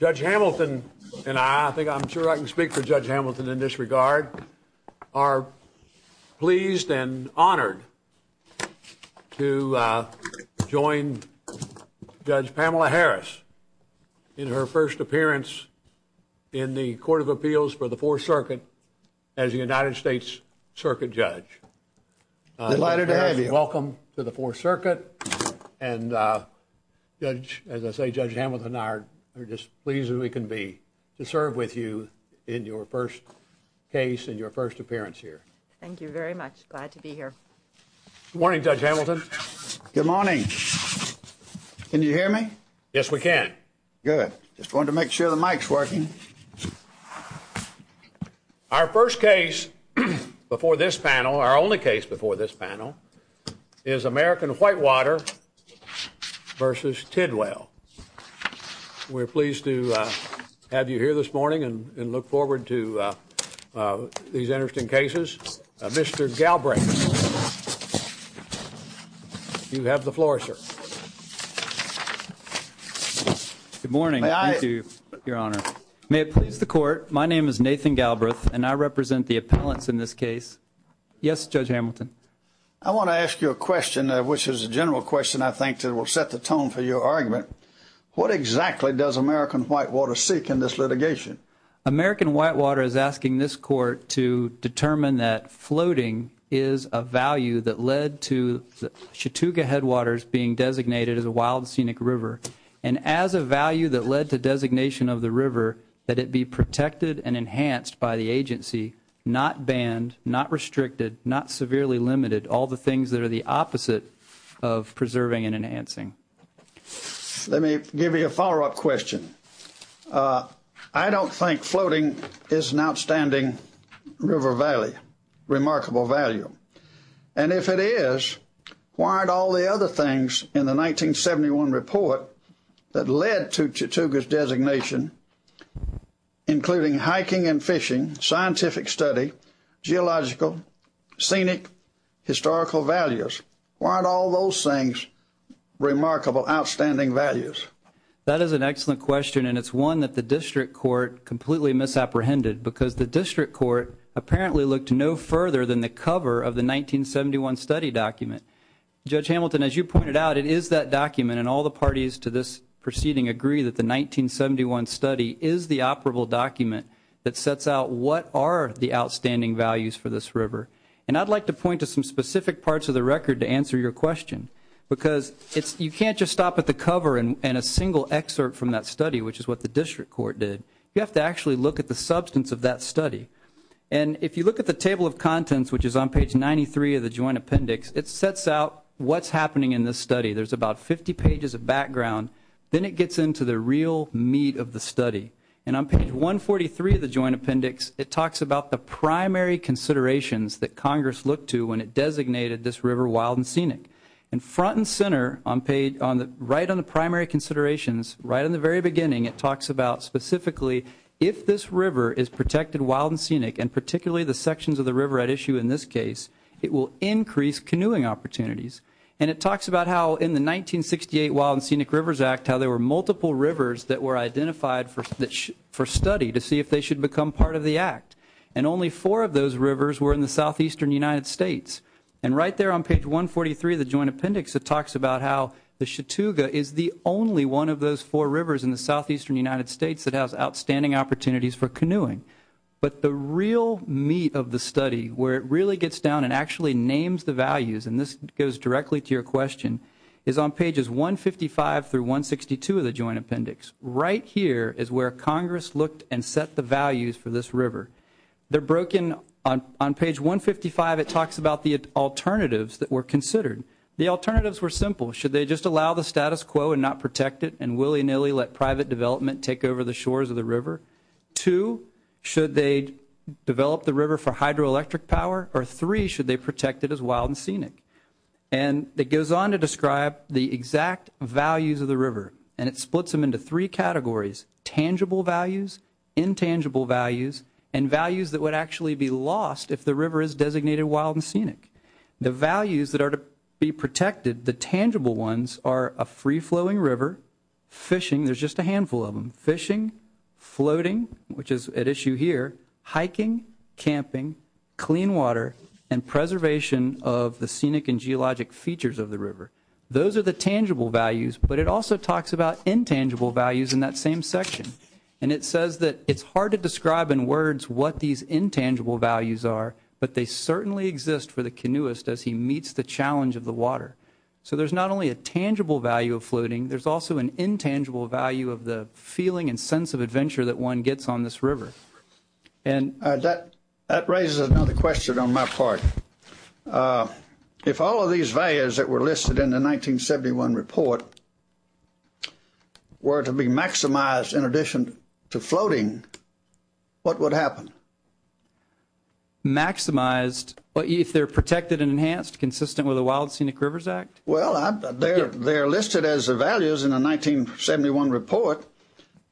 Judge Hamilton and I think I'm sure I can speak for Judge Hamilton in this regard are pleased and honored to join Judge Pamela Harris in her first appearance in the Court of Appeals for the Fourth Circuit as the United States Circuit Judge. Welcome to the Fourth Circuit and Judge, as I say, Judge Hamilton and I are just pleased as we can be to serve with you in your first case and your first appearance here. Thank you very much. Glad to be here. Good morning Judge Hamilton. Good morning. Can you hear me? Yes, we can. Good. Just wanted to make before this panel, our only case before this panel, is American Whitewater versus Tidwell. We're pleased to have you here this morning and look forward to these interesting cases. Mr. Galbraith, you have the floor, sir. Good morning. May I? Thank you, Your Honor. May it please the Court, my name is Nathan Galbraith and I Yes, Judge Hamilton. I want to ask you a question, which is a general question, I think, that will set the tone for your argument. What exactly does American Whitewater seek in this litigation? American Whitewater is asking this Court to determine that floating is a value that led to the Chattooga Headwaters being designated as a wild scenic river and as a value that led to designation of the river that it be protected and enhanced by the agency, not banned, not restricted, not severely limited, all the things that are the opposite of preserving and enhancing. Let me give you a follow-up question. I don't think floating is an outstanding river valley, remarkable value, and if it is, why aren't all the other things in the 1971 report that led to Chattooga's designation, including hiking and fishing, scientific study, geological, scenic, historical values, why aren't all those things remarkable, outstanding values? That is an excellent question and it's one that the District Court completely misapprehended because the District Court apparently looked no further than the cover of the 1971 study document. Judge Hamilton, as you pointed out, it is that document and all the parties to this proceeding agree that the 1971 study is the operable document that sets out what are the outstanding values for this river and I'd like to point to some specific parts of the record to answer your question because you can't just stop at the cover and a single excerpt from that study, which is what the District Court did. You have to actually look at the substance of that study and if you look at the table of which is on page 93 of the Joint Appendix, it sets out what's happening in this study. There's about 50 pages of background, then it gets into the real meat of the study and on page 143 of the Joint Appendix, it talks about the primary considerations that Congress looked to when it designated this river wild and scenic and front and center, right on the primary considerations, right in the very beginning, it talks about specifically if this river is protected wild and scenic and particularly the sections of the case, it will increase canoeing opportunities and it talks about how in the 1968 Wild and Scenic Rivers Act, how there were multiple rivers that were identified for study to see if they should become part of the Act and only four of those rivers were in the southeastern United States and right there on page 143 of the Joint Appendix, it talks about how the Chatooga is the only one of those four rivers in the southeastern United States that has outstanding opportunities for canoeing, but the real meat of the study where it really gets down and actually names the values and this goes directly to your question, is on pages 155 through 162 of the Joint Appendix. Right here is where Congress looked and set the values for this river. They're broken on page 155, it talks about the alternatives that were considered. The alternatives were simple, should they just allow the status quo and not protect it and willy-nilly let private development take over the shores of the river? Two, should they develop the or three, should they protect it as wild and scenic? And it goes on to describe the exact values of the river and it splits them into three categories, tangible values, intangible values and values that would actually be lost if the river is designated wild and scenic. The values that are to be protected, the tangible ones are a free-flowing river, fishing, there's just a handful of them, fishing, floating, which is at issue here, hiking, camping, clean water and preservation of the scenic and geologic features of the river. Those are the tangible values, but it also talks about intangible values in that same section and it says that it's hard to describe in words what these intangible values are, but they certainly exist for the canoeist as he meets the challenge of the water. So there's not only a tangible value of floating, there's also an sense of adventure that one gets on this river. That raises another question on my part. If all of these values that were listed in the 1971 report were to be maximized in addition to floating, what would happen? Maximized but if they're protected and enhanced consistent with a Wild Scenic Rivers Act? Well, they're listed as the values in the 1971 report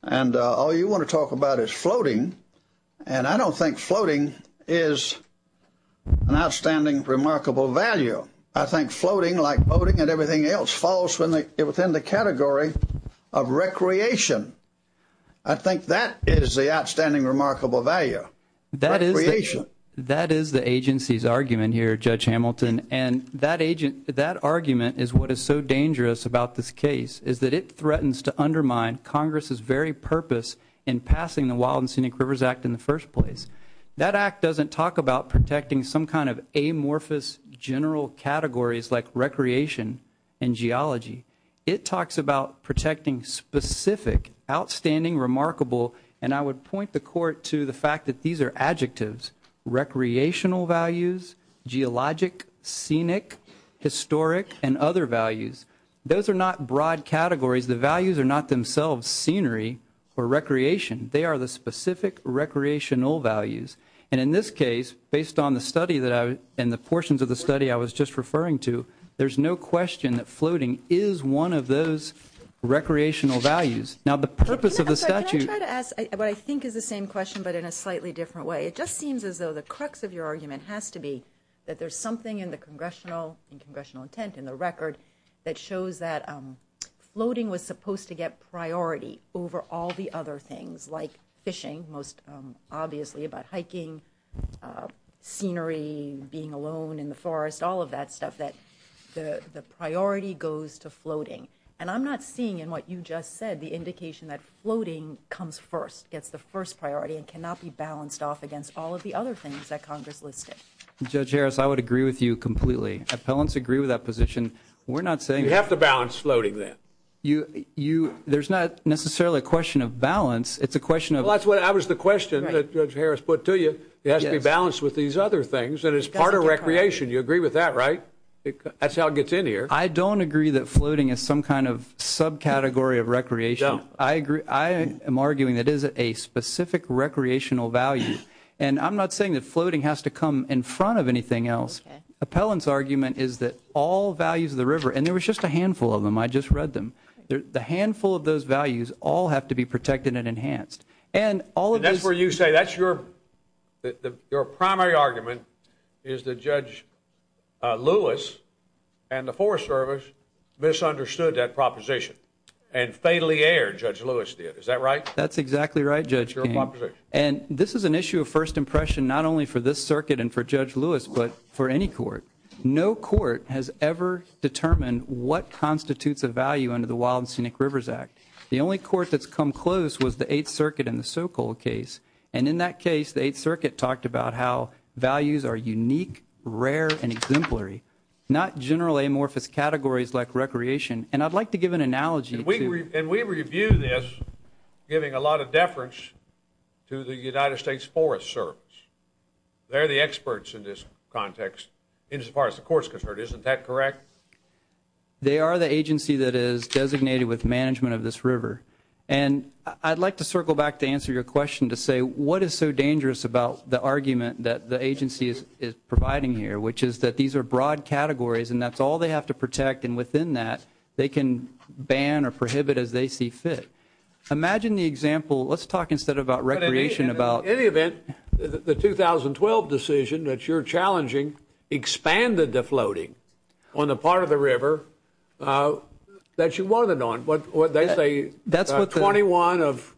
and all you want to talk about is floating and I don't think floating is an outstanding remarkable value. I think floating, like boating and everything else, falls within the category of recreation. I think that is the outstanding remarkable value. That is the agency's argument here, Judge Hamilton, and that argument is what is so dangerous about this case, is that it threatens to undermine Congress's very purpose in passing the Wild and Scenic Rivers Act in the first place. That act doesn't talk about protecting some kind of amorphous general categories like recreation and geology. It talks about protecting specific, outstanding, remarkable, and I would point the court to the fact that these are adjectives. Recreational values, geologic, scenic, historic, and other values. Those are not broad categories. The values are not themselves scenery or recreation. They are the specific recreational values and in this case, based on the study that I and the portions of the study I was just referring to, there's no question that floating is one of those recreational values. Now the purpose of the statute... Can I try to ask what I think is the same question but in a slightly different way? It just seems as though the crux of your argument has to be that there's something in the congressional intent, in the record, that shows that floating was supposed to get priority over all the other things like fishing, most obviously, about hiking, scenery, being alone in the forest, all of that stuff. That the priority goes to floating and I'm not seeing in what you just said the indication that floating comes first, gets the first priority and cannot be balanced off against all of the other things that Congress listed. Judge Harris, I would agree with you completely. Appellants agree with that position. We're not saying... You have to balance floating then. You, you, there's not necessarily a question of balance. It's a question of... Well that's what I was the question that Judge Harris put to you. It has to be balanced with these other things and it's part of recreation. You agree with that, right? That's how it gets in here. I don't agree that floating is some kind of subcategory of recreation. I agree, I am arguing that is a specific recreational value and I'm not saying that floating has to come in front of anything else. Appellant's argument is that all values of the river, and there was just a handful of them, I just read them, the handful of those values all have to be protected and enhanced and all of this... That's where you say that's your, that your primary argument is that Judge Lewis and the Forest Service misunderstood that proposition and fatally erred, Judge Lewis did. Is that right? That's exactly right, Judge King. And this is an issue of first impression not only for this circuit and for Judge Lewis but for any court. No court has ever determined what constitutes a value under the Wild and Scenic Rivers Act. The only court that's come close was the Eighth Circuit in the Sokol case and in that case the Eighth Circuit talked about how values are unique, rare, and exemplary, not general amorphous categories like recreation and I'd like to give an analogy... And we review this giving a lot of deference to the United States Forest Service. They're the experts in this context as far as the courts concerned, isn't that correct? They are the agency that is designated with management of this river and I'd like to circle back to answer your question to say what is so dangerous about the argument that the agency is providing here which is that these are broad categories and that's all they have to protect and within that they can ban or prohibit as they see fit. Imagine the example, let's talk instead about recreation about... In any event, the 2012 decision that you're challenging expanded the floating on the part of the river that you wanted on but what they say that's what 21 of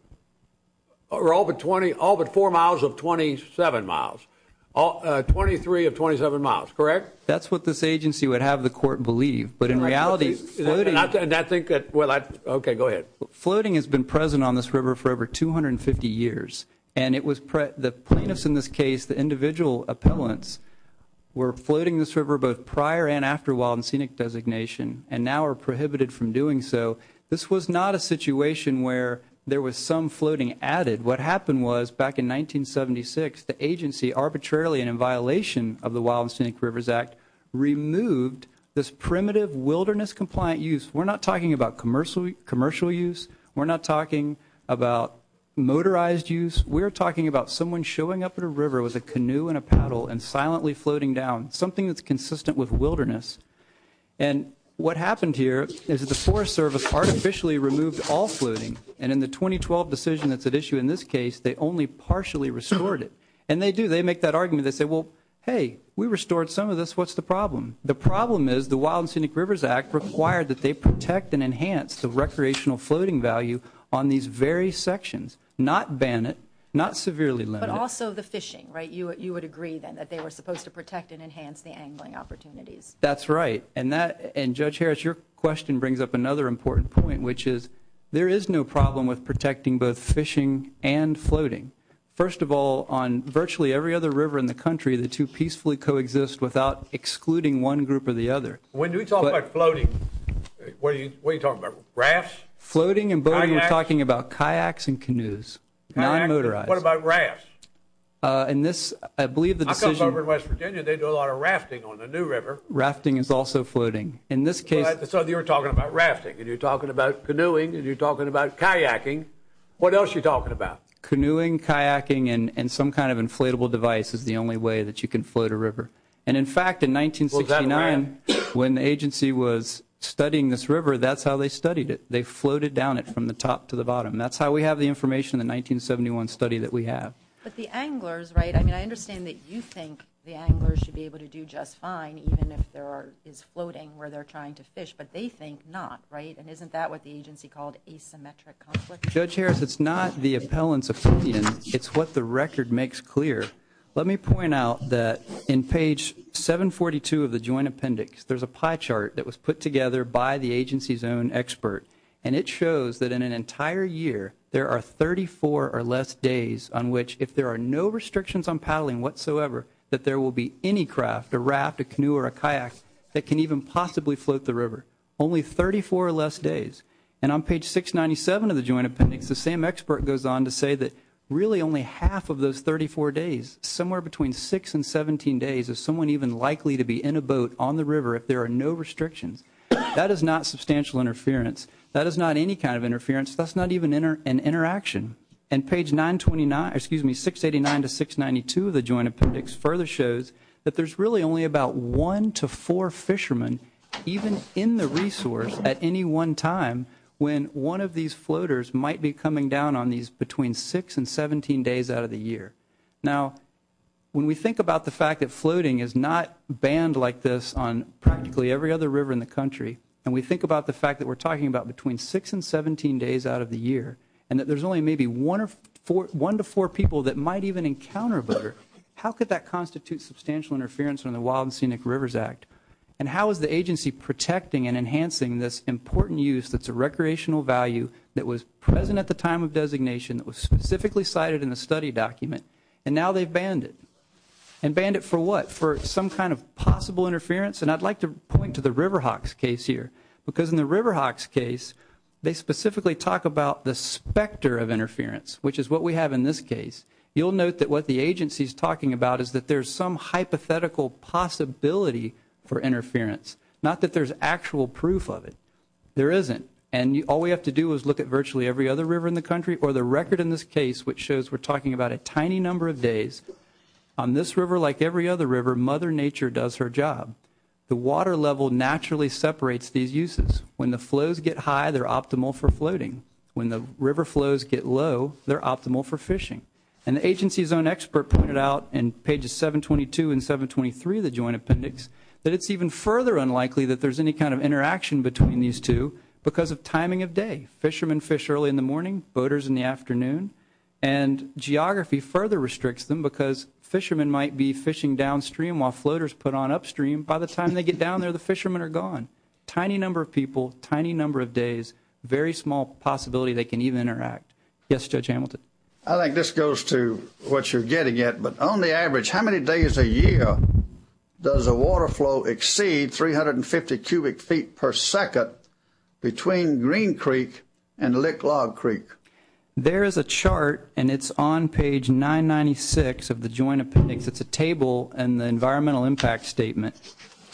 or all but 20 all but four miles of 27 miles all 23 of 27 miles, correct? That's what this agency would have the court believe but in reality... Okay go ahead. Floating has been present on this river for over 250 years and it was the plaintiffs in this case the individual appellants were floating this river both prior and after Wild and Scenic designation and now are prohibited from doing so. This was not a situation where there was some floating added. What happened was back in 1976 the agency arbitrarily and in violation of the Wild and Scenic Rivers Act removed this primitive wilderness compliant use. We're not talking about commercial commercial use. We're not talking about motorized use. We're talking about someone showing up at a river with a canoe and a paddle and silently floating down something that's consistent with wilderness and what happened here is the Forest Service artificially removed all floating and in the 2012 decision that's at issue in this case they only partially restored it and they do they make that argument they say well hey we restored some of this what's the problem? The problem is the Wild and Scenic Rivers Act required that they protect and enhance the recreational floating value on these very sections. Not ban it, not severely limit it. But also the fishing right you would agree then that they were supposed to protect and enhance the angling opportunities. That's right and that and Judge Harris your question brings up another important point which is there is no problem with protecting both fishing and floating. First of all on virtually every other river in the excluding one group or the other. When we talk about floating, what are you talking about, rafts? Floating and boating we're talking about kayaks and canoes. Kayaks, what about rafts? I believe the decision... I come over to West Virginia they do a lot of rafting on the New River. Rafting is also floating. In this case... So you're talking about rafting and you're talking about canoeing and you're talking about kayaking. What else you talking about? Canoeing, kayaking and and some kind of inflatable device is the fact in 1969 when the agency was studying this river that's how they studied it. They floated down it from the top to the bottom. That's how we have the information in the 1971 study that we have. But the anglers right I mean I understand that you think the anglers should be able to do just fine even if there are is floating where they're trying to fish but they think not right and isn't that what the agency called asymmetric conflict? Judge Harris it's not the appellant's opinion it's what the record makes clear. Let me point out that in page 742 of the Joint Appendix there's a pie chart that was put together by the agency's own expert and it shows that in an entire year there are 34 or less days on which if there are no restrictions on paddling whatsoever that there will be any craft a raft a canoe or a kayak that can even possibly float the river. Only 34 or less days and on page 697 of the Joint Appendix the same expert goes on to say that really only half of those 34 days somewhere between 6 and 17 days is someone even likely to be in a boat on the river if there are no restrictions. That is not substantial interference that is not any kind of interference that's not even enter an interaction and page 929 excuse me 689 to 692 of the Joint Appendix further shows that there's really only about 1 to 4 fishermen even in the resource at any one time when one of these floaters might be coming down on these between 6 and 17 days out of the year. Now when we think about the fact that floating is not banned like this on practically every other river in the country and we think about the fact that we're talking about between 6 and 17 days out of the year and that there's only maybe 1 to 4 people that might even encounter a boater, how could that constitute substantial interference on the Wild and Scenic Rivers Act and how is the agency protecting and enhancing this important use that's a recreational value that was present at the time of the study document and now they've banned it and banned it for what for some kind of possible interference and I'd like to point to the River Hawks case here because in the River Hawks case they specifically talk about the specter of interference which is what we have in this case you'll note that what the agency is talking about is that there's some hypothetical possibility for interference not that there's actual proof of it there isn't and you all we have to do is look at virtually every other river in the country or the record in this case which shows we're talking about a tiny number of days on this river like every other river mother nature does her job the water level naturally separates these uses when the flows get high they're optimal for floating when the river flows get low they're optimal for fishing and the agency's own expert pointed out in pages 722 and 723 the joint appendix that it's even further unlikely that there's any kind of interaction between these two because of timing of day fishermen fish early in the morning boaters in the afternoon and geography further restricts them because fishermen might be fishing downstream while floaters put on upstream by the time they get down there the fishermen are gone tiny number of people tiny number of days very small possibility they can even interact yes judge Hamilton I think this goes to what you're getting it but on the average how many days a year does a water flow exceed 350 cubic feet per second between Green Creek and Lick Log Creek there is a chart and it's on page 996 of the joint appendix it's a table and the environmental impact statement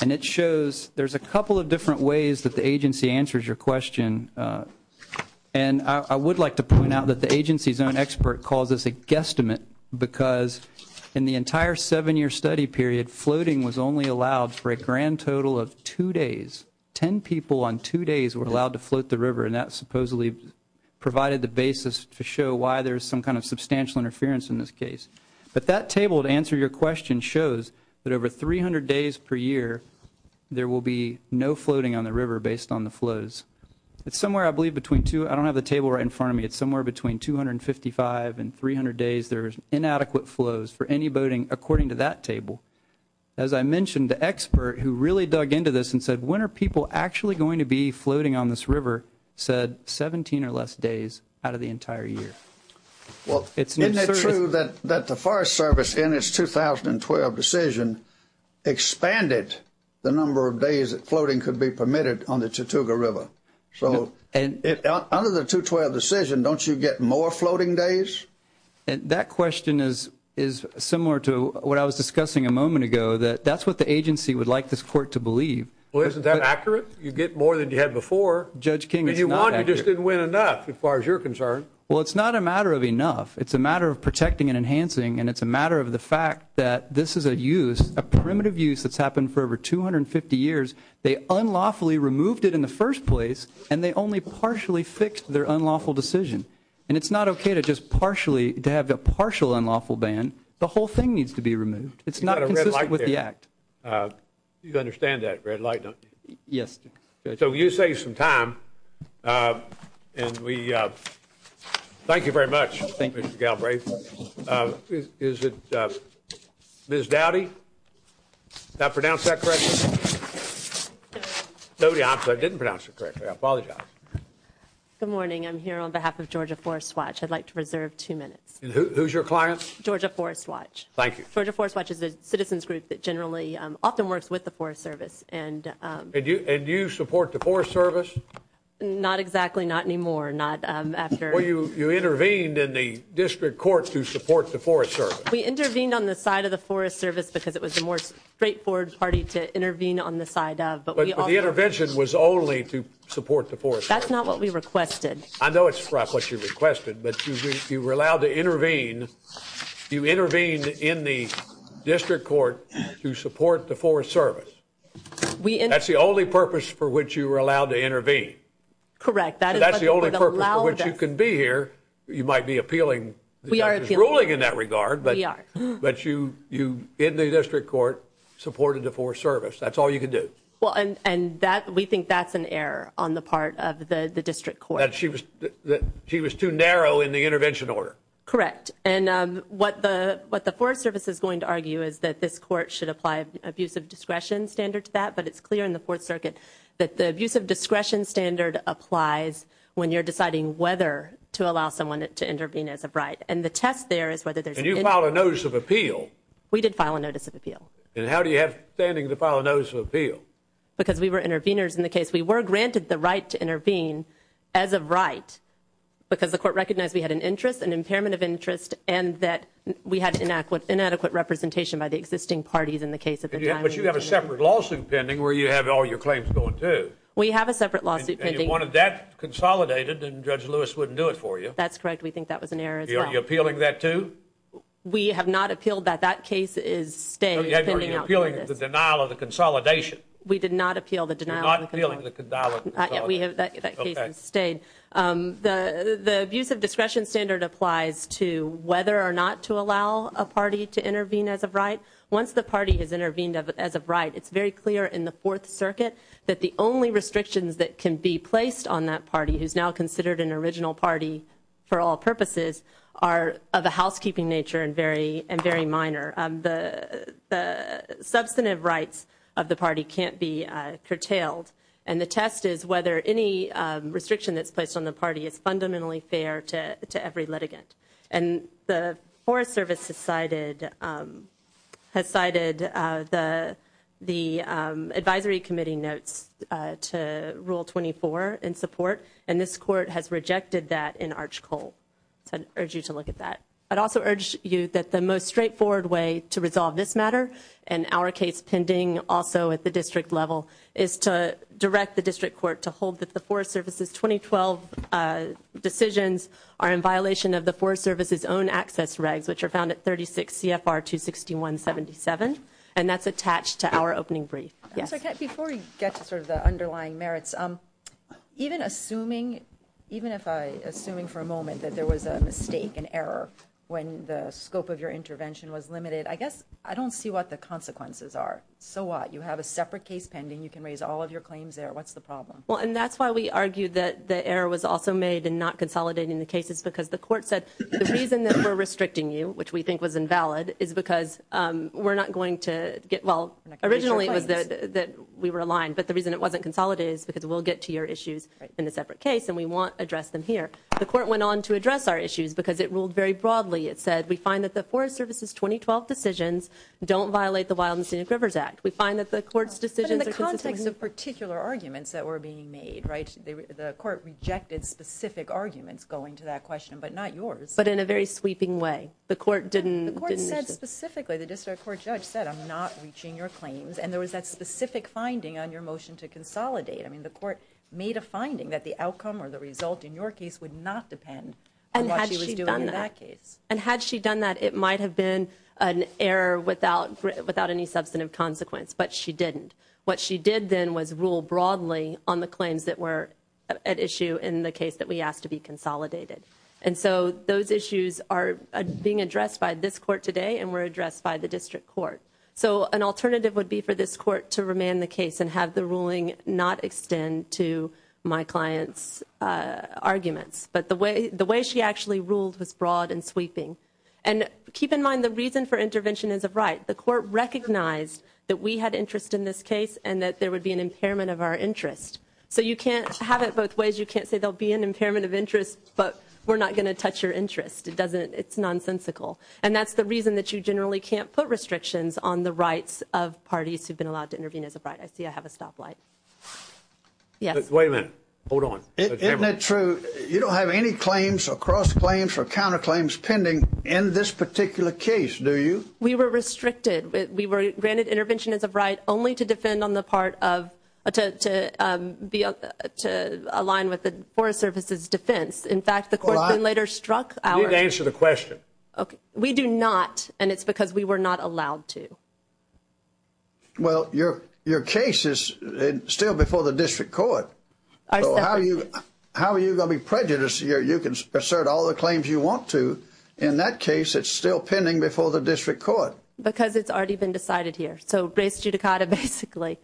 and it shows there's a couple of different ways that the agency answers your question and I would like to point out that the agency's own expert calls this a guesstimate because in the entire seven-year study period floating was only allowed for a grand total of two days ten people on two days were allowed to float the river and that supposedly provided the basis to show why there's some kind of substantial interference in this case but that table to answer your question shows that over 300 days per year there will be no floating on the river based on the flows it's somewhere I believe between two I don't have a table right in front of me it's somewhere between 255 and 300 days there's inadequate flows for any boating according to that table as I mentioned the expert who really dug into this and said when are people actually going to be floating on this river said 17 or less days out of the entire year well it's not true that that the Forest Service in its 2012 decision expanded the number of days that floating could be permitted on the Chattooga River so and under the 212 decision don't you get more floating days and that question is is similar to what I was discussing a moment ago that that's what the agency would like this court to believe well isn't that accurate you get more than you had before Judge King you want you just didn't win enough as far as you're concerned well it's not a matter of enough it's a matter of protecting and enhancing and it's a matter of the fact that this is a use a primitive use that's happened for over 250 years they unlawfully removed it in the first place and they only partially fixed their unlawful decision and it's not okay to just partially to have the partial unlawful ban the whole thing needs to be removed it's not a red light with the act you understand that red light yes so you save some time and we thank you very much thank you Galbraith is it miss Dowdy that pronounced that correct nobody I'm so I didn't pronounce it correctly I apologize good morning I'm here on behalf of Georgia Forest Watch I'd like to reserve two minutes who's your clients Georgia Forest Watch thank you for the Forest Watch is a citizens group that generally often works with the Forest Service and did you and you support the Forest Service not exactly not anymore not after you you intervened in the district court to support the Forest Service we intervened on the side of the Forest Service because it was the more straightforward party to intervene on the side of but the intervention was only to support the force that's not what we requested I know it's what you requested but you were allowed to intervene you intervened in the district court to support the Forest Service we and that's the only purpose for which you were allowed to intervene correct that that's the only purpose which you can be here you might be appealing we are ruling in that regard but yeah but you you in the district court supported the Forest Service that's all you could do well and and that we think that's an error on the part of the the district court she was that she was too narrow in the intervention order correct and what the what the Forest Service is going to argue is that this court should apply abusive discretion standard to that but it's clear in the Fourth Circuit that the abuse of discretion standard applies when you're deciding whether to allow someone to intervene as a bride and the test there is whether there's a new file a notice of appeal we did file a notice of appeal and how do you have standing to file a notice of appeal because we were interveners in the case we were granted the right to intervene as of right because the court recognized we had an interest and impairment of interest and that we had to enact with inadequate representation by the existing parties in the case of you have a separate lawsuit pending where you have all your claims going to we have a separate lawsuit pending one of that consolidated and judge Lewis wouldn't do it for you that's correct we think that was an error you're appealing that to we have not appealed that that case is the denial of the consolidation we did not appeal the denial we have stayed the the abuse of discretion standard applies to whether or not to allow a party to intervene as a bride once the party has intervened as a bride it's very clear in the Fourth Circuit that the only restrictions that can be placed on that party who's now considered an original party for all purposes are of a substantive rights of the party can't be curtailed and the test is whether any restriction that's placed on the party is fundamentally fair to every litigant and the Forest Service decided has cited the the Advisory Committee notes to rule 24 in support and this court has rejected that in Arch Cole so I urge you to look at that I'd also urge you that the most straightforward way to resolve this matter and our case pending also at the district level is to direct the district court to hold that the Forest Service's 2012 decisions are in violation of the Forest Service's own access regs which are found at 36 CFR 261 77 and that's attached to our opening brief yes okay before you get to sort of the underlying merits um even assuming even if I assuming for a moment that there was a mistake an error when the scope of your intervention was limited I guess I don't see what the consequences are so what you have a separate case pending you can raise all of your claims there what's the problem well and that's why we argued that the error was also made and not consolidating the cases because the court said the reason that we're restricting you which we think was invalid is because we're not going to get well originally it was that we were aligned but the reason it wasn't consolidated is because we'll get to your issues in a separate case and we won't address them here the court went on to address our issues because it ruled very broadly it said we find that the Forest Service's 2012 decisions don't violate the Wild and Scenic Rivers Act we find that the court's decision in the context of particular arguments that were being made right the court rejected specific arguments going to that question but not yours but in a very sweeping way the court didn't the court said specifically the district court judge said I'm not reaching your claims and there was that specific finding on your motion to consolidate I mean the court made a finding that the outcome or the result in your case would not depend on that case and had she done that it might have been an error without without any substantive consequence but she didn't what she did then was rule broadly on the claims that were at issue in the case that we asked to be consolidated and so those issues are being addressed by this court today and were addressed by the district court so an alternative would be for this court to remain the case and have the ruling not extend to my clients arguments but the way the way she actually ruled was broad and sweeping and keep in mind the reason for intervention is a right the court recognized that we had interest in this case and that there would be an impairment of our interest so you can't have it both ways you can't say there'll be an impairment of interest but we're not going to touch your interest it doesn't it's nonsensical and that's the reason that you generally can't put restrictions on the rights of parties who've been allowed to intervene as a bride I see I have a stoplight yes wait hold on isn't it true you don't have any claims or cross claims or counter claims pending in this particular case do you we were restricted we were granted intervention as a bride only to defend on the part of to be up to align with the Forest Service's defense in fact the court later struck our answer the question okay we do not and it's because we were not allowed to well your case is still before the district court how are you how are you going to be prejudiced here you can assert all the claims you want to in that case it's still pending before the district court because it's already been decided here so race judicata basically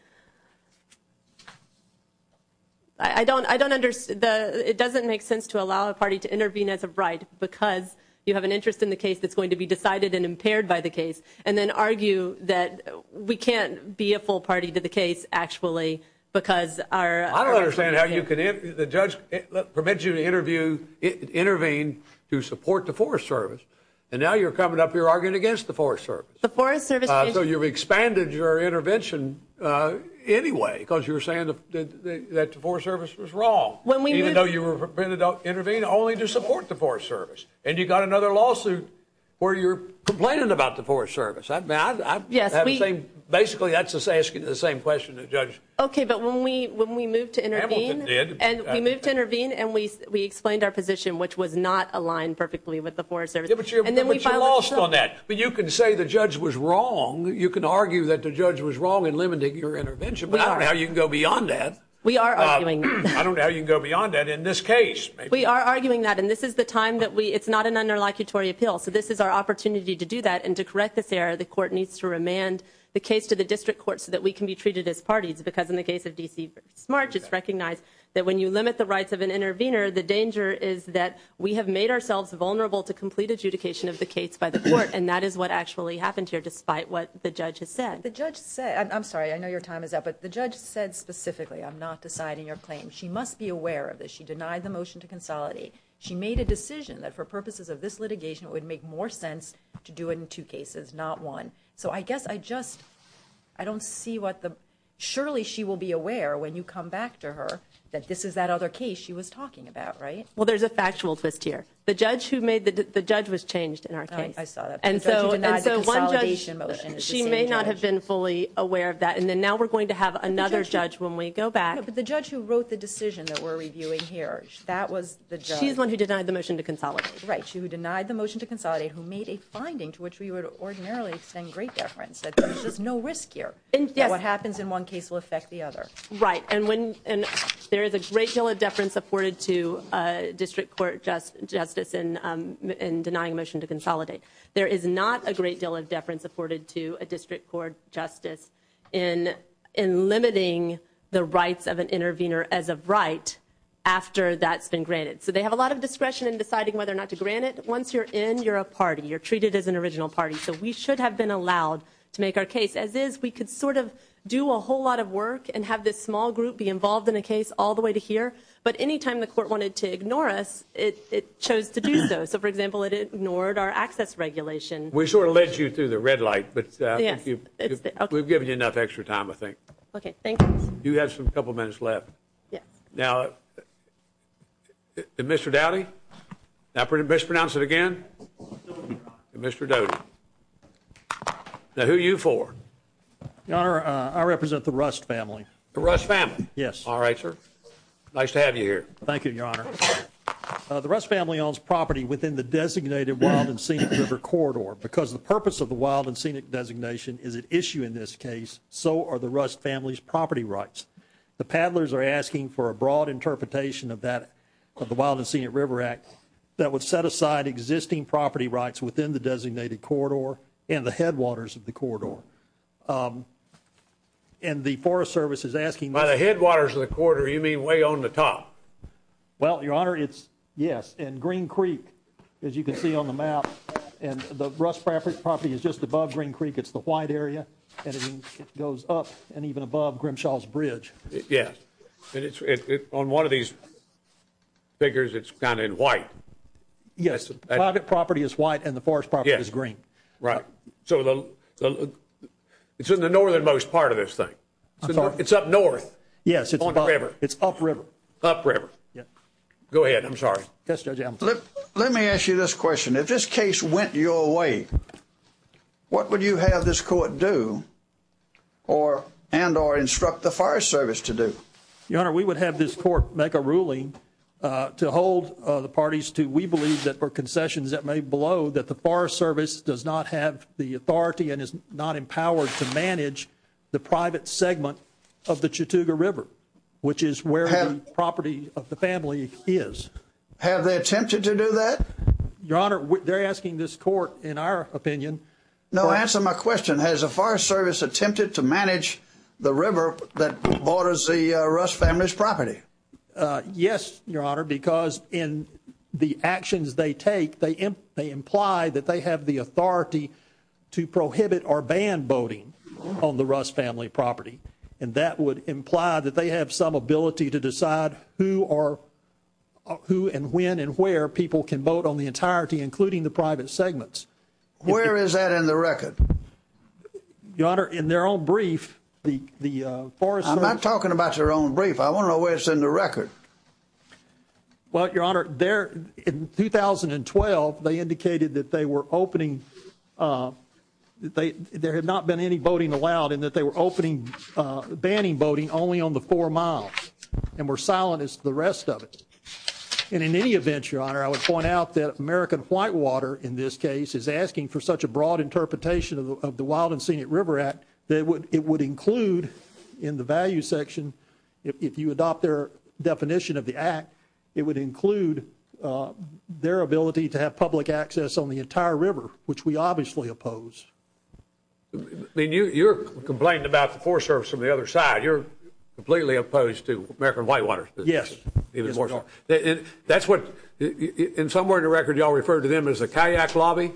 I don't I don't understand the it doesn't make sense to allow a party to intervene as a bride because you have an interest in the case that's going to be decided and impaired by the case and then argue that we can't be a full party to the case actually because our I don't understand how you can if the judge let prevent you to interview intervene to support the Forest Service and now you're coming up here arguing against the Forest Service the Forest Service so you've expanded your intervention anyway because you're saying that the Forest Service was wrong when we know you were prevented intervene only to support the Forest Service and you got another lawsuit where you're complaining about the Forest Service I'm bad yes we basically that's just asking the same question to judge okay but when we when we moved to intervene and we moved to intervene and we we explained our position which was not aligned perfectly with the Forest Service and then we lost on that but you can say the judge was wrong you can argue that the judge was wrong in limiting your intervention but I don't know how you can go beyond that we are arguing I don't know you can go beyond that in this case we are arguing that and this is the time that we it's not an under locutory appeal so this is our opportunity to do that and to correct this error the court needs to remand the case to the district court so that we can be treated as parties because in the case of DC smart just recognize that when you limit the rights of an intervener the danger is that we have made ourselves vulnerable to complete adjudication of the case by the court and that is what actually happened here despite what the judge has said the judge said I'm sorry I know your time is up but the judge said specifically I'm not deciding your claim she must be aware of this she denied the motion to consolidate she made a decision that for to do it in two cases not one so I guess I just I don't see what the surely she will be aware when you come back to her that this is that other case she was talking about right well there's a factual twist here the judge who made that the judge was changed in our case and so she may not have been fully aware of that and then now we're going to have another judge when we go back but the judge who wrote the decision that we're reviewing here that was the she's one who denied the motion to consolidate right you denied the motion to finding to which we would ordinarily extend great deference that there's no risk here and yeah what happens in one case will affect the other right and when and there is a great deal of deference supported to district court just justice in in denying motion to consolidate there is not a great deal of deference afforded to a district court justice in in limiting the rights of an intervener as of right after that's been granted so they have a lot of discretion in deciding whether or not to grant it once you're in you're a party you're treated as an original party so we should have been allowed to make our case as is we could sort of do a whole lot of work and have this small group be involved in a case all the way to here but anytime the court wanted to ignore us it chose to do so so for example it ignored our access regulation we sort of led you through the red light but we've given you enough extra time I think okay now pretty best pronounce it again mr. Doe now who you for our I represent the rust family the rust family yes all right sir nice to have you here thank you your honor the rust family owns property within the designated one and seen it record or because the purpose of the wild and scenic designation is an issue in this case so are the rust family's property rights the paddlers are asking for a broad interpretation of that of the wild and scenic River Act that would set aside existing property rights within the designated corridor and the headwaters of the corridor and the Forest Service is asking by the headwaters of the quarter you mean way on the top well your honor it's yes and Green Creek as you can see on the map and the rust fabric property is just above Green Creek it's the white area and it goes up and even above Grimshaw's and it's on one of these figures it's kind of white yes private property is white and the forest property is green right so it's in the northernmost part of this thing so it's up north yes it's on the river it's up river up river yeah go ahead I'm sorry let me ask you this question if this case went your way what would you have this court do or and or instruct the Forest Service to do your honor we would have this court make a ruling to hold the parties to we believe that for concessions that may blow that the Forest Service does not have the authority and is not empowered to manage the private segment of the Chattooga River which is where the property of the family is have they attempted to do that your honor they're asking this court in our opinion no answer my question has a Forest Service attempted to manage the river that borders the rust family's property yes your honor because in the actions they take they imply that they have the authority to prohibit or ban voting on the rust family property and that would imply that they have some ability to decide who or who and when and where people can vote on the entirety including the private segments where is that in the record your honor in their own brief the the forest I'm not talking about your own brief I want to know where it's in the record what your honor there in 2012 they indicated that they were opening they there had not been any voting allowed and that they were opening banning voting only on and we're silent as the rest of it and in any event your honor I would point out that American Whitewater in this case is asking for such a broad interpretation of the Wild and Scenic River Act that would it would include in the value section if you adopt their definition of the act it would include their ability to have public access on the entire river which we obviously oppose I mean you you're complaining about the Forest Service from the other side you're completely opposed to American Whitewater yes even more so that's what in some way to record y'all refer to them as a kayak lobby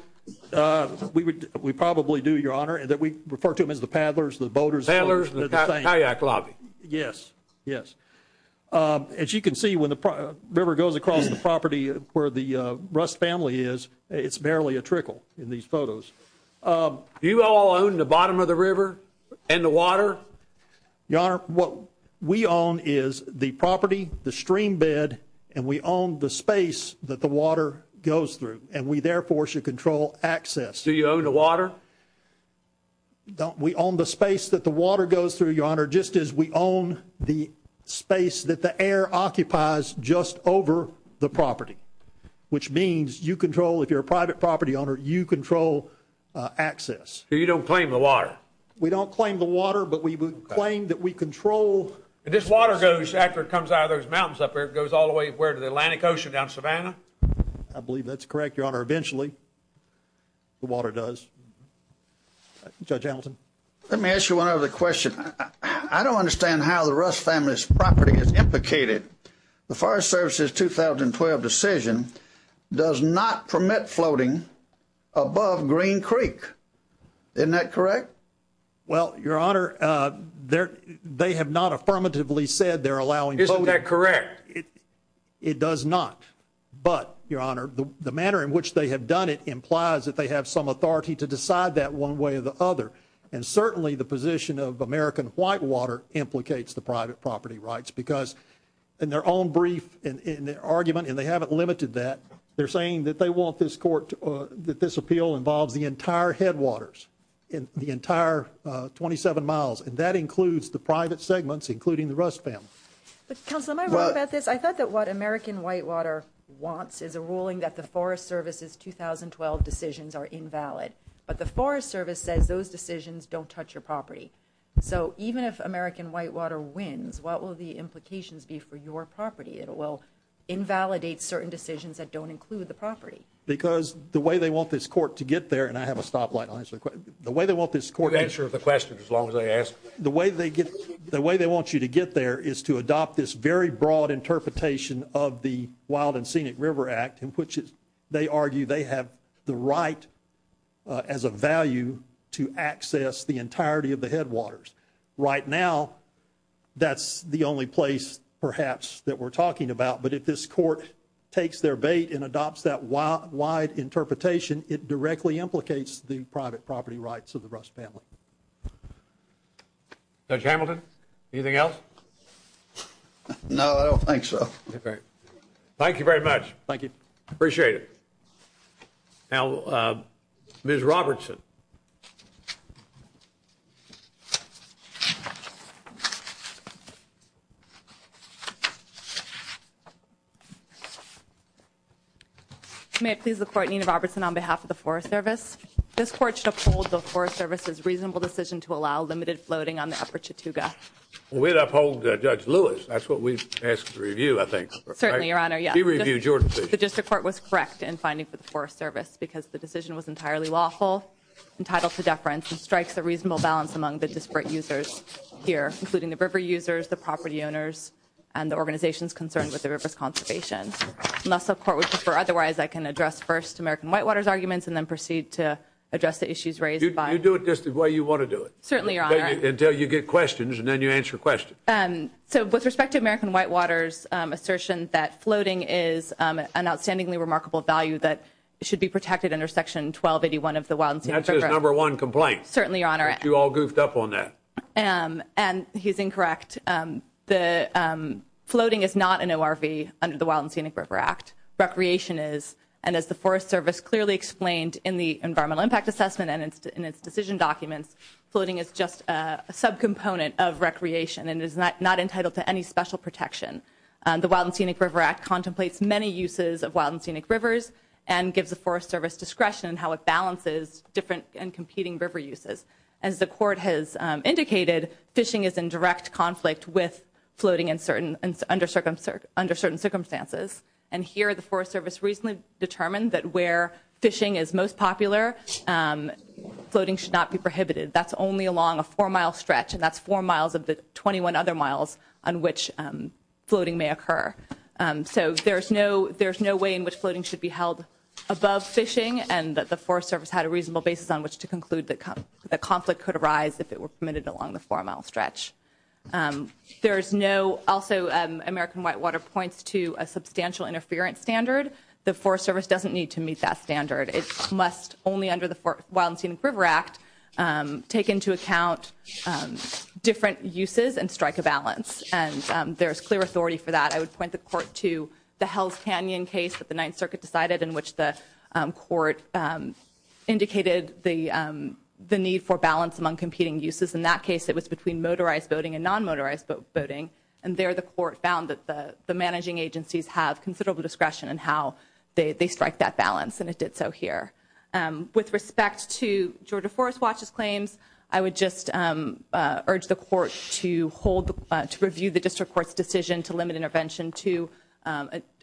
we would we probably do your honor and that we refer to them as the paddlers the boaters sailors the kayak lobby yes yes as you can see when the river goes across the property where the rust family is it's barely a trickle in these your honor what we own is the property the stream bed and we own the space that the water goes through and we therefore should control access do you own the water don't we own the space that the water goes through your honor just as we own the space that the air occupies just over the property which means you control if you're a private property owner you control access you don't claim the water we don't claim the water but we would claim that we control this water goes after it comes out of those mountains up there it goes all the way where to the Atlantic Ocean down Savannah I believe that's correct your honor eventually the water does judge Hamilton let me ask you one other question I don't understand how the rust family's property is implicated the Forest Service's 2012 decision does not permit floating above Green Creek isn't that correct well your honor there they have not affirmatively said they're allowing isn't that correct it does not but your honor the manner in which they have done it implies that they have some authority to decide that one way or the other and certainly the position of American whitewater implicates the private property rights because in their own brief in their argument and they haven't limited that they're saying that they want this court that this appeal involves the entire headwaters in the entire 27 miles and that includes the private segments including the rust family I thought that what American whitewater wants is a ruling that the Forest Service's 2012 decisions are invalid but the Forest Service says those decisions don't touch your property so even if American whitewater wins what will the implications be for your property it will invalidate certain decisions that don't include the the way they want you to get there is to adopt this very broad interpretation of the Wild and Scenic River Act in which they argue they have the right as a value to access the entirety of the headwaters right now that's the only place perhaps that we're talking about but if this court takes their bait and adopts that wide interpretation it directly implicates the private property rights of the rust family. Judge Hamilton anything else? No I don't think so. Thank you very much. Thank you. Appreciate it. Now Ms. Robertson. May it please the court Nina Robertson on behalf of the Forest Service this court should uphold the Forest Service's reasonable decision to allow limited floating on the upper Chattooga. We'd uphold Judge Lewis that's what we ask to review I think. Certainly your honor. She reviewed your decision. The district court was correct in finding for the Forest Service because the decision was strikes a reasonable balance among the disparate users here including the river users the property owners and the organization's concerned with the river's conservation. Unless the court would prefer otherwise I can address first American Whitewaters arguments and then proceed to address the issues raised by You do it just the way you want to do it. Certainly your honor. Until you get questions and then you answer questions. And so with respect to American Whitewaters assertion that floating is an outstandingly remarkable value that should be protected under section 1281 of the Wild and Scenic River Act. That's his number one complaint. Certainly your honor. But you all goofed up on that. And he's incorrect. Floating is not an ORV under the Wild and Scenic River Act. Recreation is and as the Forest Service clearly explained in the environmental impact assessment and it's in its decision documents floating is just a subcomponent of recreation and is not not entitled to any special protection. The Wild and Scenic River Act contemplates many uses of wild and scenic rivers and gives the competing river uses. As the court has indicated fishing is in direct conflict with floating in certain and under certain circumstances. And here the Forest Service recently determined that where fishing is most popular floating should not be prohibited. That's only along a four mile stretch and that's four miles of the 21 other miles on which floating may occur. So there's no there's no way in which floating should be held above fishing and that the Forest Service had a reasonable basis on which to conclude that the conflict could arise if it were permitted along the four mile stretch. There's no also American Whitewater points to a substantial interference standard. The Forest Service doesn't need to meet that standard. It must only under the Wild and Scenic River Act take into account different uses and strike a balance. And there's clear authority for that. I would point the court to the Hell's Canyon case that the Ninth Circuit decided in which the court indicated the the need for balance among competing uses. In that case it was between motorized boating and non-motorized boating. And there the court found that the the managing agencies have considerable discretion and how they strike that balance and it did so here. With respect to Georgia Forest Watch's claims I would just urge the court to hold to review the district court's decision to limit intervention to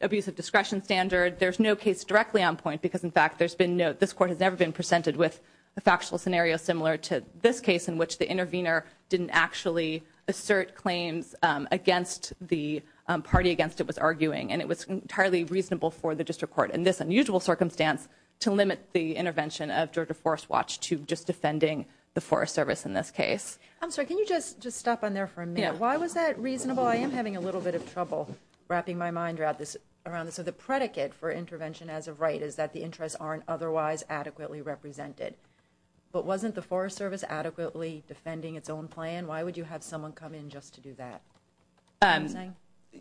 abuse of discretion standard. There's no case directly on point because in fact there's been no this court has never been presented with a factual scenario similar to this case in which the intervener didn't actually assert claims against the party against it was arguing and it was entirely reasonable for the district court in this unusual circumstance to limit the intervention of Georgia Forest Watch to just defending the Forest Service in this case. I'm sorry can you just just stop on there for a minute. Why was that reasonable? I am having a little bit of right is that the interests aren't otherwise adequately represented. But wasn't the Forest Service adequately defending its own plan? Why would you have someone come in just to do that?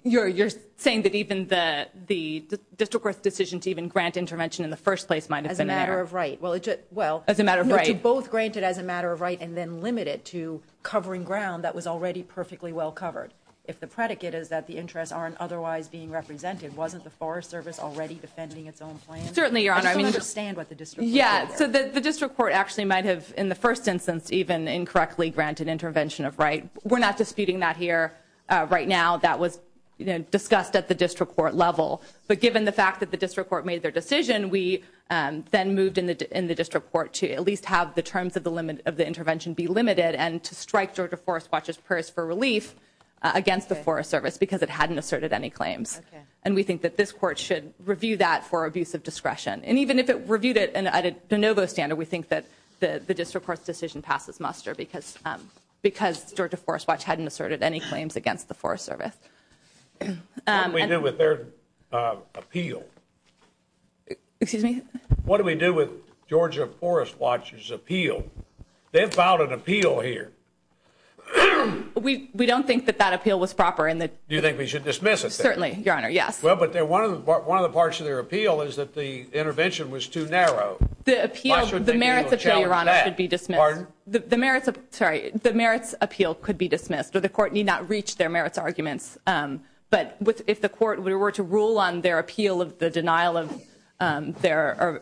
You're you're saying that even the the district court's decision to even grant intervention in the first place might have been there. As a matter of right. Well it just well as a matter of right. To both grant it as a matter of right and then limit it to covering ground that was already perfectly well covered. If the predicate is that the interests aren't otherwise being represented wasn't the Forest Service already defending its own plan? Certainly your honor. I still don't understand what the district court did there. Yeah so the district court actually might have in the first instance even incorrectly granted intervention of right. We're not disputing that here right now. That was you know discussed at the district court level. But given the fact that the district court made their decision we then moved in the district court to at least have the terms of the limit of the intervention be limited and to strike Georgia Forest Watch's prayers for relief against the Forest Service because it hadn't asserted any claims. And we think that this court should review that for abuse of discretion. And even if it reviewed it and added de novo standard we think that the district court's decision passes muster because because Georgia Forest Watch hadn't asserted any claims against the Forest Service. What do we do with their appeal? Excuse me? What do we do with Georgia Forest Watch's appeal? They've filed an appeal here. We we don't think that that appeal was proper. Do you think we should dismiss it? Certainly your honor yes. Well but they're one of the parts of their appeal is that the intervention was too narrow. The appeal, the merits of the appeal could be dismissed. The merits of sorry the merits appeal could be dismissed or the court need not reach their merits arguments. But with if the court were to rule on their appeal of the denial of their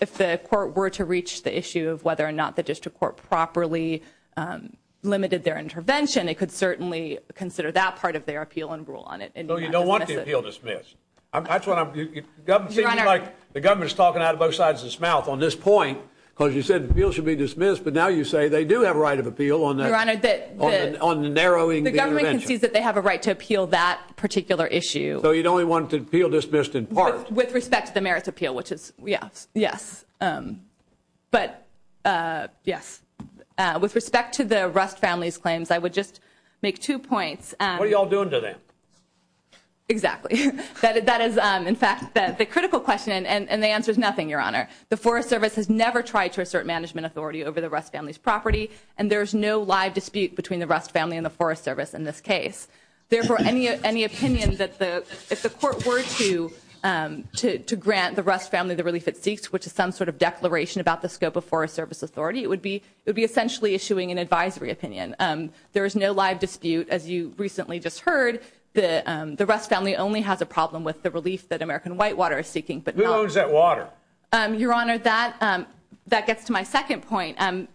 if the court were to reach the issue of whether or not the district court properly limited their appeal and rule on it. So you don't want the appeal dismissed? That's what I'm thinking. The government's talking out of both sides of its mouth on this point because you said the appeal should be dismissed but now you say they do have right of appeal on the narrowing. The government concedes that they have a right to appeal that particular issue. So you don't want the appeal dismissed in part? With respect to the merits appeal which is yes yes but yes with respect to the Rust family's claims I would just make two points. What are y'all doing today? Exactly that is in fact that the critical question and the answer is nothing your honor. The Forest Service has never tried to assert management authority over the Rust family's property and there's no live dispute between the Rust family and the Forest Service in this case. Therefore any any opinion that the if the court were to to grant the Rust family the relief it seeks which is some sort of declaration about the scope of Forest Service authority it would be it would be essentially issuing an advisory opinion. There is no live dispute as you recently just heard the the Rust family only has a problem with the relief that American Whitewater is seeking. But who owns that water? Your honor that that gets to my second point and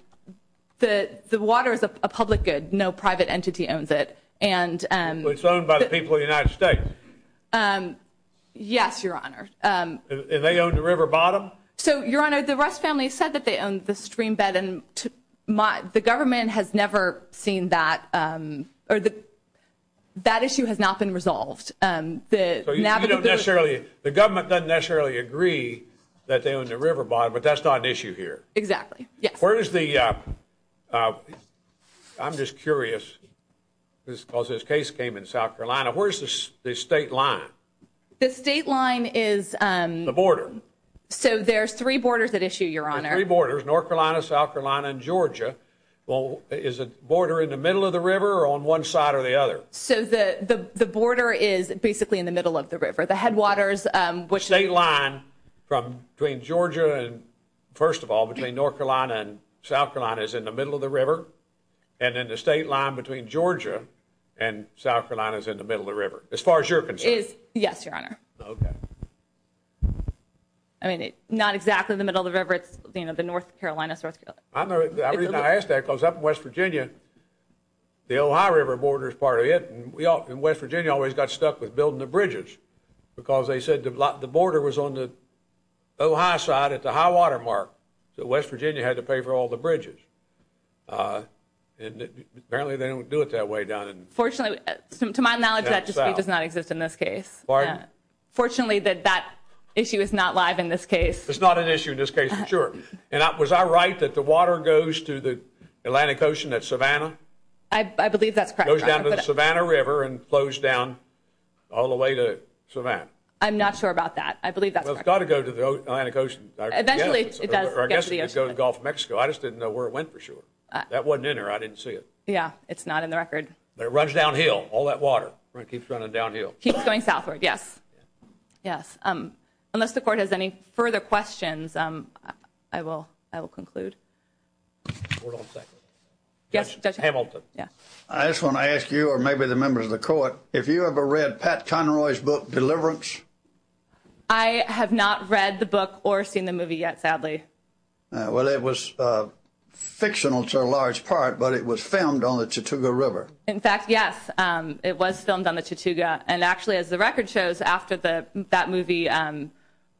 the the water is a public good no private entity owns it. And it's owned by the people of the United States? Yes your honor. And they own the river bottom? So your honor the stream bed and my the government has never seen that or the that issue has not been resolved. The government doesn't necessarily agree that they own the river bottom but that's not an issue here? Exactly. Where is the I'm just curious this cause this case came in South Carolina where's this the state line? The state line is the border. So there's three borders at issue your honor. Three borders North Carolina, South Carolina, and Georgia. Well is a border in the middle of the river or on one side or the other? So the the border is basically in the middle of the river the headwaters. State line from between Georgia and first of all between North Carolina and South Carolina is in the middle of the river and then the state line between Georgia and South Carolina is in the middle of the river as far as you're concerned? Yes your honor. Okay. I know the reason I asked that cause up in West Virginia the Ohio River border is part of it and we all in West Virginia always got stuck with building the bridges because they said the lot the border was on the Ohio side at the high-water mark so West Virginia had to pay for all the bridges and apparently they don't do it that way down in. Fortunately to my knowledge that just does not exist in this case. Pardon? Fortunately that that issue is not live in this case. It's not an issue in this case I'm sure. And I was I right that the water goes to the Atlantic Ocean at Savannah? I believe that's correct. Goes down to the Savannah River and flows down all the way to Savannah. I'm not sure about that. I believe that's got to go to the Atlantic Ocean. Eventually it does. Or I guess it would go to Gulf of Mexico. I just didn't know where it went for sure. That wasn't in there I didn't see it. Yeah it's not in the record. But it runs downhill all that water right keeps running downhill. Keeps going southward Yes. Yes. Unless the court has any further questions I will I will conclude. Yes. Judge Hamilton. I just want to ask you or maybe the members of the court if you ever read Pat Conroy's book Deliverance? I have not read the book or seen the movie yet sadly. Well it was fictional to a large part but it was filmed on the Chattooga River. In fact yes it was filmed on the Chattooga and actually as the record shows after the that movie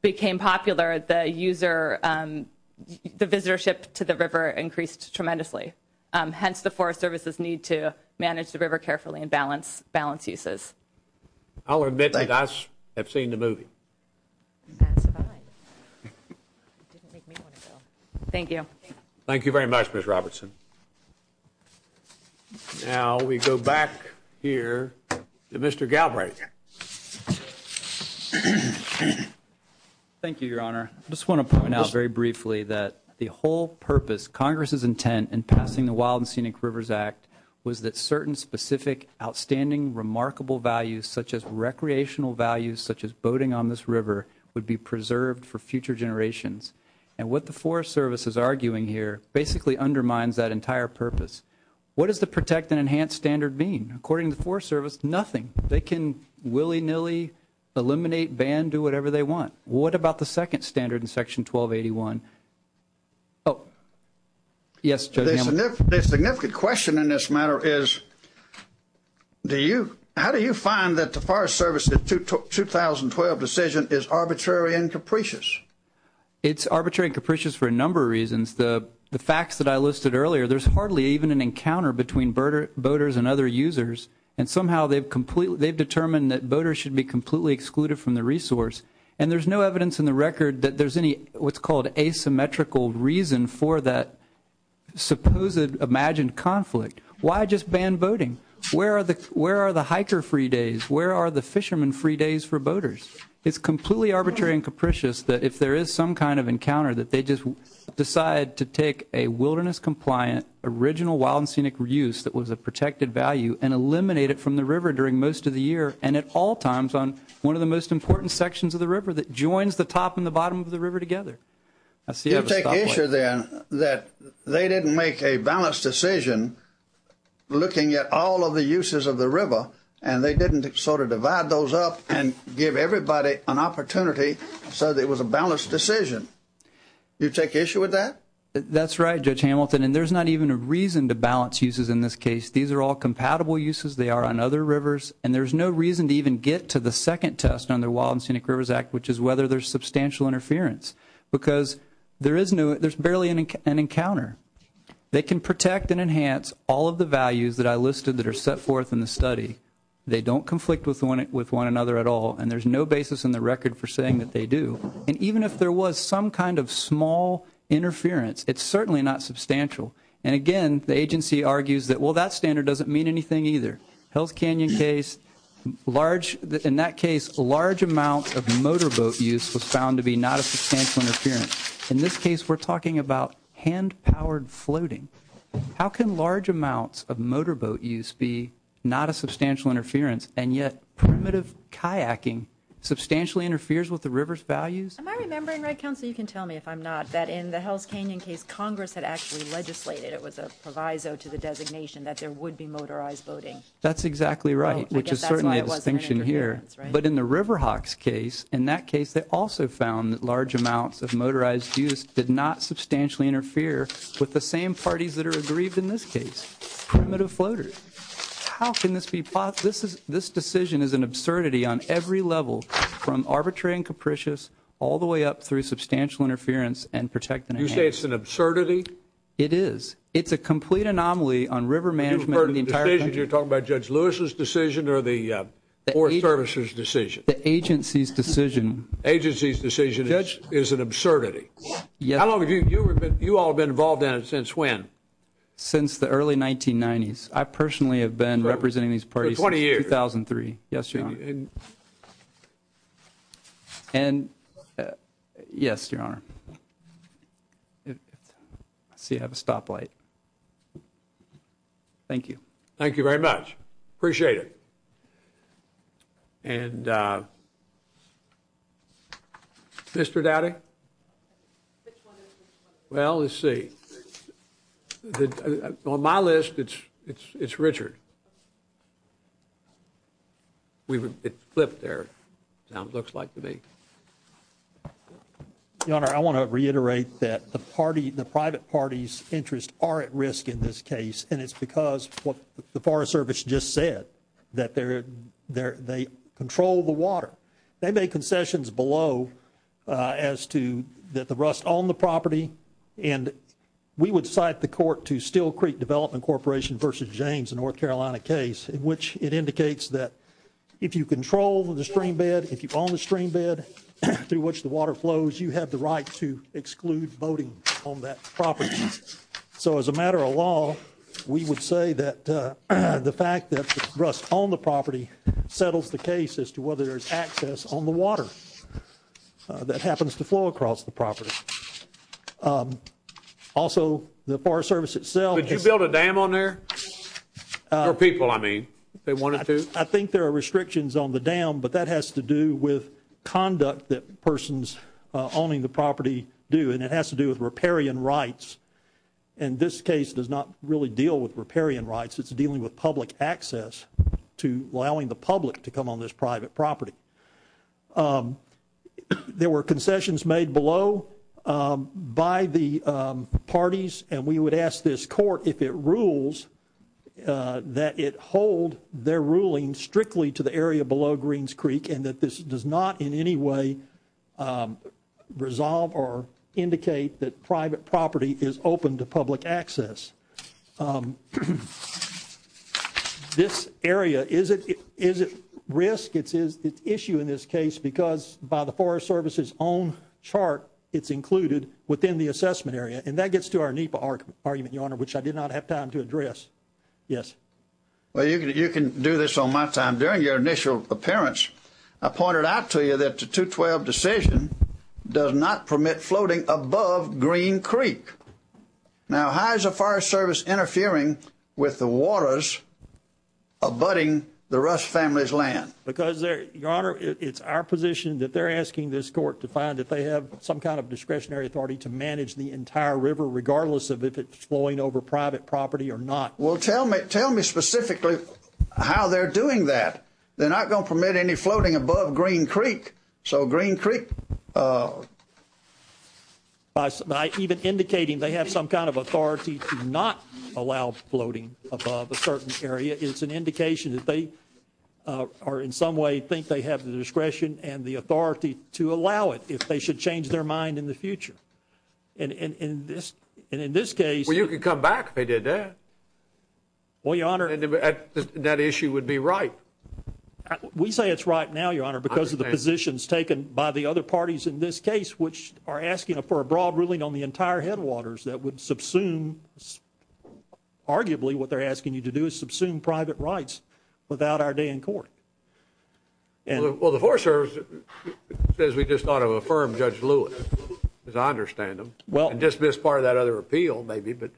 became popular the user the visitorship to the river increased tremendously. Hence the Forest Service's need to manage the river carefully and balance balance uses. I'll admit that I have seen the movie. Thank you. Thank you very much Miss Robertson. Now we go back here to Thank you Your Honor. I just want to point out very briefly that the whole purpose Congress's intent in passing the Wild and Scenic Rivers Act was that certain specific outstanding remarkable values such as recreational values such as boating on this river would be preserved for future generations. And what the Forest Service is arguing here basically undermines that entire purpose. What does the protect and enhance standard mean? According to the Forest Service nothing. They can willy-nilly eliminate, ban, do whatever they want. What about the second standard in section 1281? Oh yes. The significant question in this matter is do you how do you find that the Forest Service's 2012 decision is arbitrary and capricious? It's arbitrary and capricious for a number of reasons. The facts that I listed earlier there's hardly even an and somehow they've determined that boaters should be completely excluded from the resource. And there's no evidence in the record that there's any what's called asymmetrical reason for that supposed imagined conflict. Why just ban boating? Where are the hiker free days? Where are the fishermen free days for boaters? It's completely arbitrary and capricious that if there is some kind of encounter that they just decide to take a wilderness compliant original wild and scenic reuse that was a protected value and eliminate it from the river during most of the year and at all times on one of the most important sections of the river that joins the top and the bottom of the river together. You take issue then that they didn't make a balanced decision looking at all of the uses of the river and they didn't sort of divide those up and give everybody an opportunity so that was a balanced decision. You take issue with that? That's right Judge Hamilton and there's not even a reason to balance uses in this case. These are all compatible uses they are on other rivers and there's no reason to even get to the second test on their Wild and Scenic Rivers Act which is whether there's substantial interference because there is no there's barely an encounter. They can protect and enhance all of the values that I listed that are set forth in the study. They don't conflict with one with one another at all and there's no basis in the record for saying that they do. And even if there was some kind of small interference it's certainly not substantial and again the agency argues that well that standard doesn't mean anything either. Hell's Canyon case large in that case a large amount of motorboat use was found to be not a substantial interference. In this case we're talking about hand powered floating. How can large amounts of motorboat use be not a substantial interference and yet primitive kayaking substantially interferes with the Congress had actually legislated it was a proviso to the designation that there would be motorized boating. That's exactly right which is certainly a distinction here but in the Riverhawks case in that case they also found that large amounts of motorized use did not substantially interfere with the same parties that are aggrieved in this case. Primitive floaters. How can this be possible? This decision is an absurdity on every level from arbitrary and capricious all the way up through substantial interference and protecting. You say it's an absurdity? It is. It's a complete anomaly on river management in the entire country. You're talking about Judge Lewis's decision or the Forest Service's decision? The agency's decision. Agency's decision is an absurdity? Yes. How long have you all been involved in it since when? Since the early 1990s. I personally have been representing these parties for 20 years. 2003. Yes your honor. And yes your honor. See I have a stoplight. Thank you. Thank you very much. Appreciate it. And Mr. Dowdy? Well let's see. On my list it's Richard. It's flipped there. Now it looks like to me. Your honor, I want to reiterate that the party, the private parties interest are at risk in this case and it's because what the Forest Service just said that they control the water. They make concessions below as to that the rust on the property and we would cite the court to Steel Creek Development Corporation versus James in North Carolina case in which it indicates that if you control the streambed, if you own the streambed through which the water flows, you have the right to exclude boating on that property. So as a matter of law we would say that the fact that rust on the property settles the case as to whether there's access on the water that happens to flow across the property. Also the people I mean. They wanted to. I think there are restrictions on the dam but that has to do with conduct that persons owning the property do and it has to do with riparian rights and this case does not really deal with riparian rights. It's dealing with public access to allowing the public to come on this private property. There were concessions made below by the parties and we would ask this court if it rules that it hold their ruling strictly to the area below Greens Creek and that this does not in any way resolve or indicate that private property is open to public access. This area is it is it risk it's is the issue in this case because by the Forest Service's own chart it's included within the assessment area and that gets to our NEPA argument your honor which I did not have time to address. Yes. Well you can you can do this on my time during your initial appearance. I pointed out to you that the 212 decision does not permit floating above Green Creek. Now how is the Forest Service interfering with the waters abutting the rust family's land? Because there your honor it's our position that they're asking this court to find that they have some kind of discretionary authority to manage the entire river regardless of if it's flowing over private property or not. Well tell me tell me specifically how they're doing that. They're not going to permit any floating above Green Creek. So Green Creek. By even indicating they have some kind of authority to not allow floating above a certain area it's an indication that they are in some way think they have the discretion and the authority to allow it if they should change their mind in the future. And in this and in this case. Well you could come back if they did that. Well your honor. That issue would be right. We say it's right now your honor because of the positions taken by the other parties in this case which are asking for a broad ruling on the entire headwaters that would subsume arguably what they're asking you to do is subsume private rights without our day in court. Well the Forest Service says we just ought to affirm Judge Lewis as I understand him. Well. And dismiss part of that other appeal maybe but.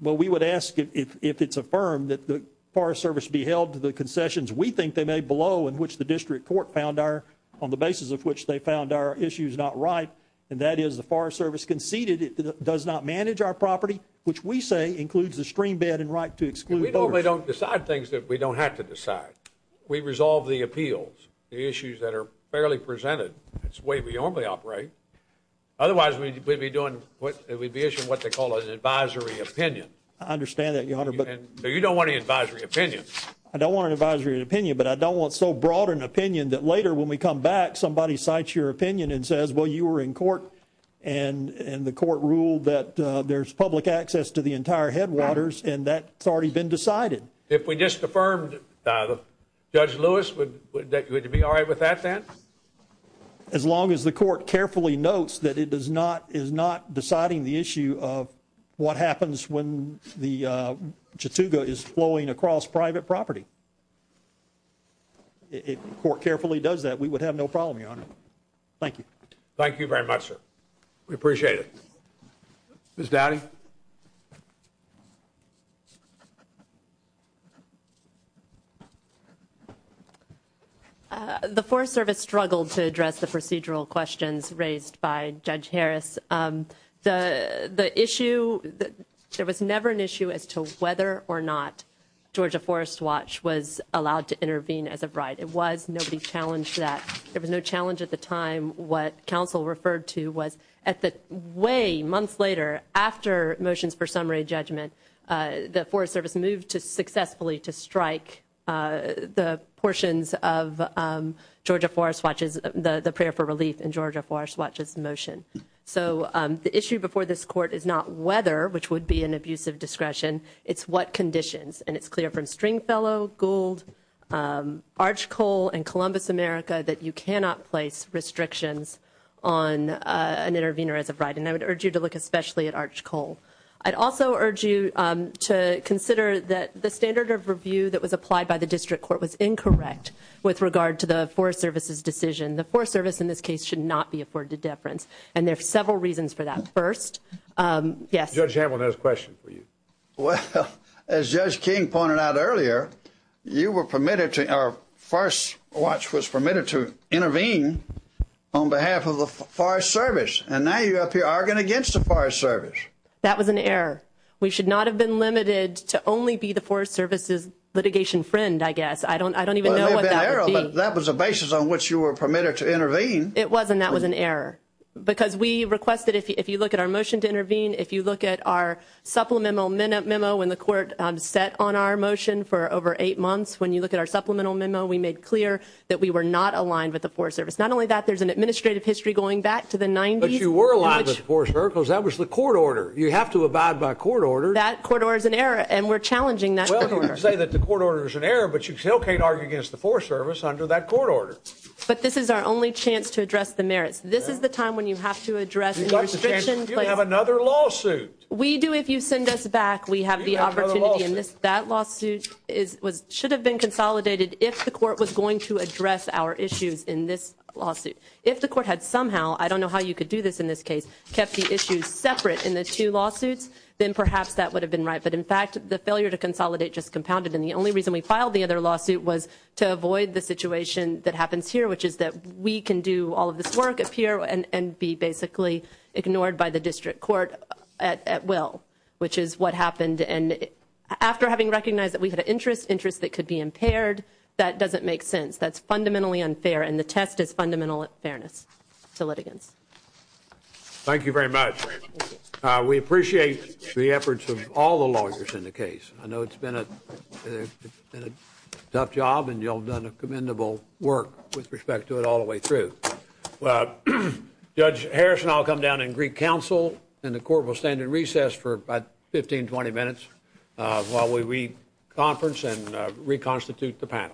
Well we would ask it if it's affirmed that the Forest Service be held to the concessions we think they may blow in which the district court found our on the basis of which they found our issues not right and that is the Forest Service conceded it does not manage our property which we say includes the stream bed and right to exclude. We normally don't decide things that we don't have to decide. We resolve the appeals the issues that are fairly presented. It's the way we normally operate. Otherwise we'd be doing what we'd be issuing what they call an advisory opinion. I understand that your honor. But you don't want an advisory opinion. I don't want an advisory opinion but I don't want so broad an opinion that later when we come back somebody cites your opinion and says well you were in court and and the court ruled that there's public access to the entire headwaters and that's already been decided. If we just affirmed Judge Lewis would that good to be all right with that then? As long as the court carefully notes that it does not is not deciding the issue of what happens when the Chattooga is flowing across private property. If the court carefully does that we would have no problem your honor. Thank you. Thank you very much sir. We appreciate it. Ms. Dowdy. The Forest Service struggled to address the procedural questions raised by Judge Harris. The the issue that there was never an issue as to whether or not Georgia Forest Watch was allowed to intervene as a bride. It was. Nobody challenged that. There was no challenge at the time. What counsel referred to was at the way months later after motions for summary judgment the Forest Service moved to successfully to strike the portions of Georgia Forest Watch's the the prayer for relief in Georgia Forest Watch's motion. So the issue before this court is not whether which would be an abusive discretion. It's what conditions and it's clear from Stringfellow, Gould, Arch Cole and Columbus America that you cannot place restrictions on an intervener as a bride. And I would urge you to look especially at Arch Cole. I'd also urge you to consider that the standard of review that was applied by the district court was incorrect with regard to the Forest Service's decision. The Forest Service in this case should not be afforded deference and there are several reasons for that. First, yes. Judge Hamlin has a question for you. Well, as Judge King pointed out earlier, you were permitted to our first watch was permitted to intervene on behalf of the Forest Service and now you up here arguing against the Forest Service. That was an error. We should not have been limited to only be the Forest Service's litigation friend, I guess. I don't I don't even know what that was a basis on which you were permitted to intervene. It wasn't. That was an error because we look at our supplemental minute memo when the court set on our motion for over eight months. When you look at our supplemental memo, we made clear that we were not aligned with the Forest Service. Not only that, there's an administrative history going back to the 90s. But you were aligned with the Forest Service. That was the court order. You have to abide by court orders. That court order is an error and we're challenging that. Well, you say that the court order is an error but you still can't argue against the Forest Service under that court order. But this is our only chance to address the merits. This is the time when you have to address another lawsuit. We do. If you send us back, we have the opportunity in this. That lawsuit is was should have been consolidated if the court was going to address our issues in this lawsuit. If the court had somehow, I don't know how you could do this in this case, kept the issues separate in the two lawsuits, then perhaps that would have been right. But in fact, the failure to consolidate just compounded. And the only reason we filed the other lawsuit was to avoid the situation that happens here, which is that we can do all of this work up here and be basically ignored by the district court at at will, which is what happened. And after having recognized that we had an interest interest that could be impaired, that doesn't make sense. That's fundamentally unfair. And the test is fundamental fairness to litigants. Thank you very much. We appreciate the efforts of all the lawyers in the case. I know it's been a tough job and you'll done a commendable work with respect to it all the way through. Well, Judge Harrison, I'll come down and Greek Council and the court will stand in recess for about 15 20 minutes while we we conference and reconstitute the panel.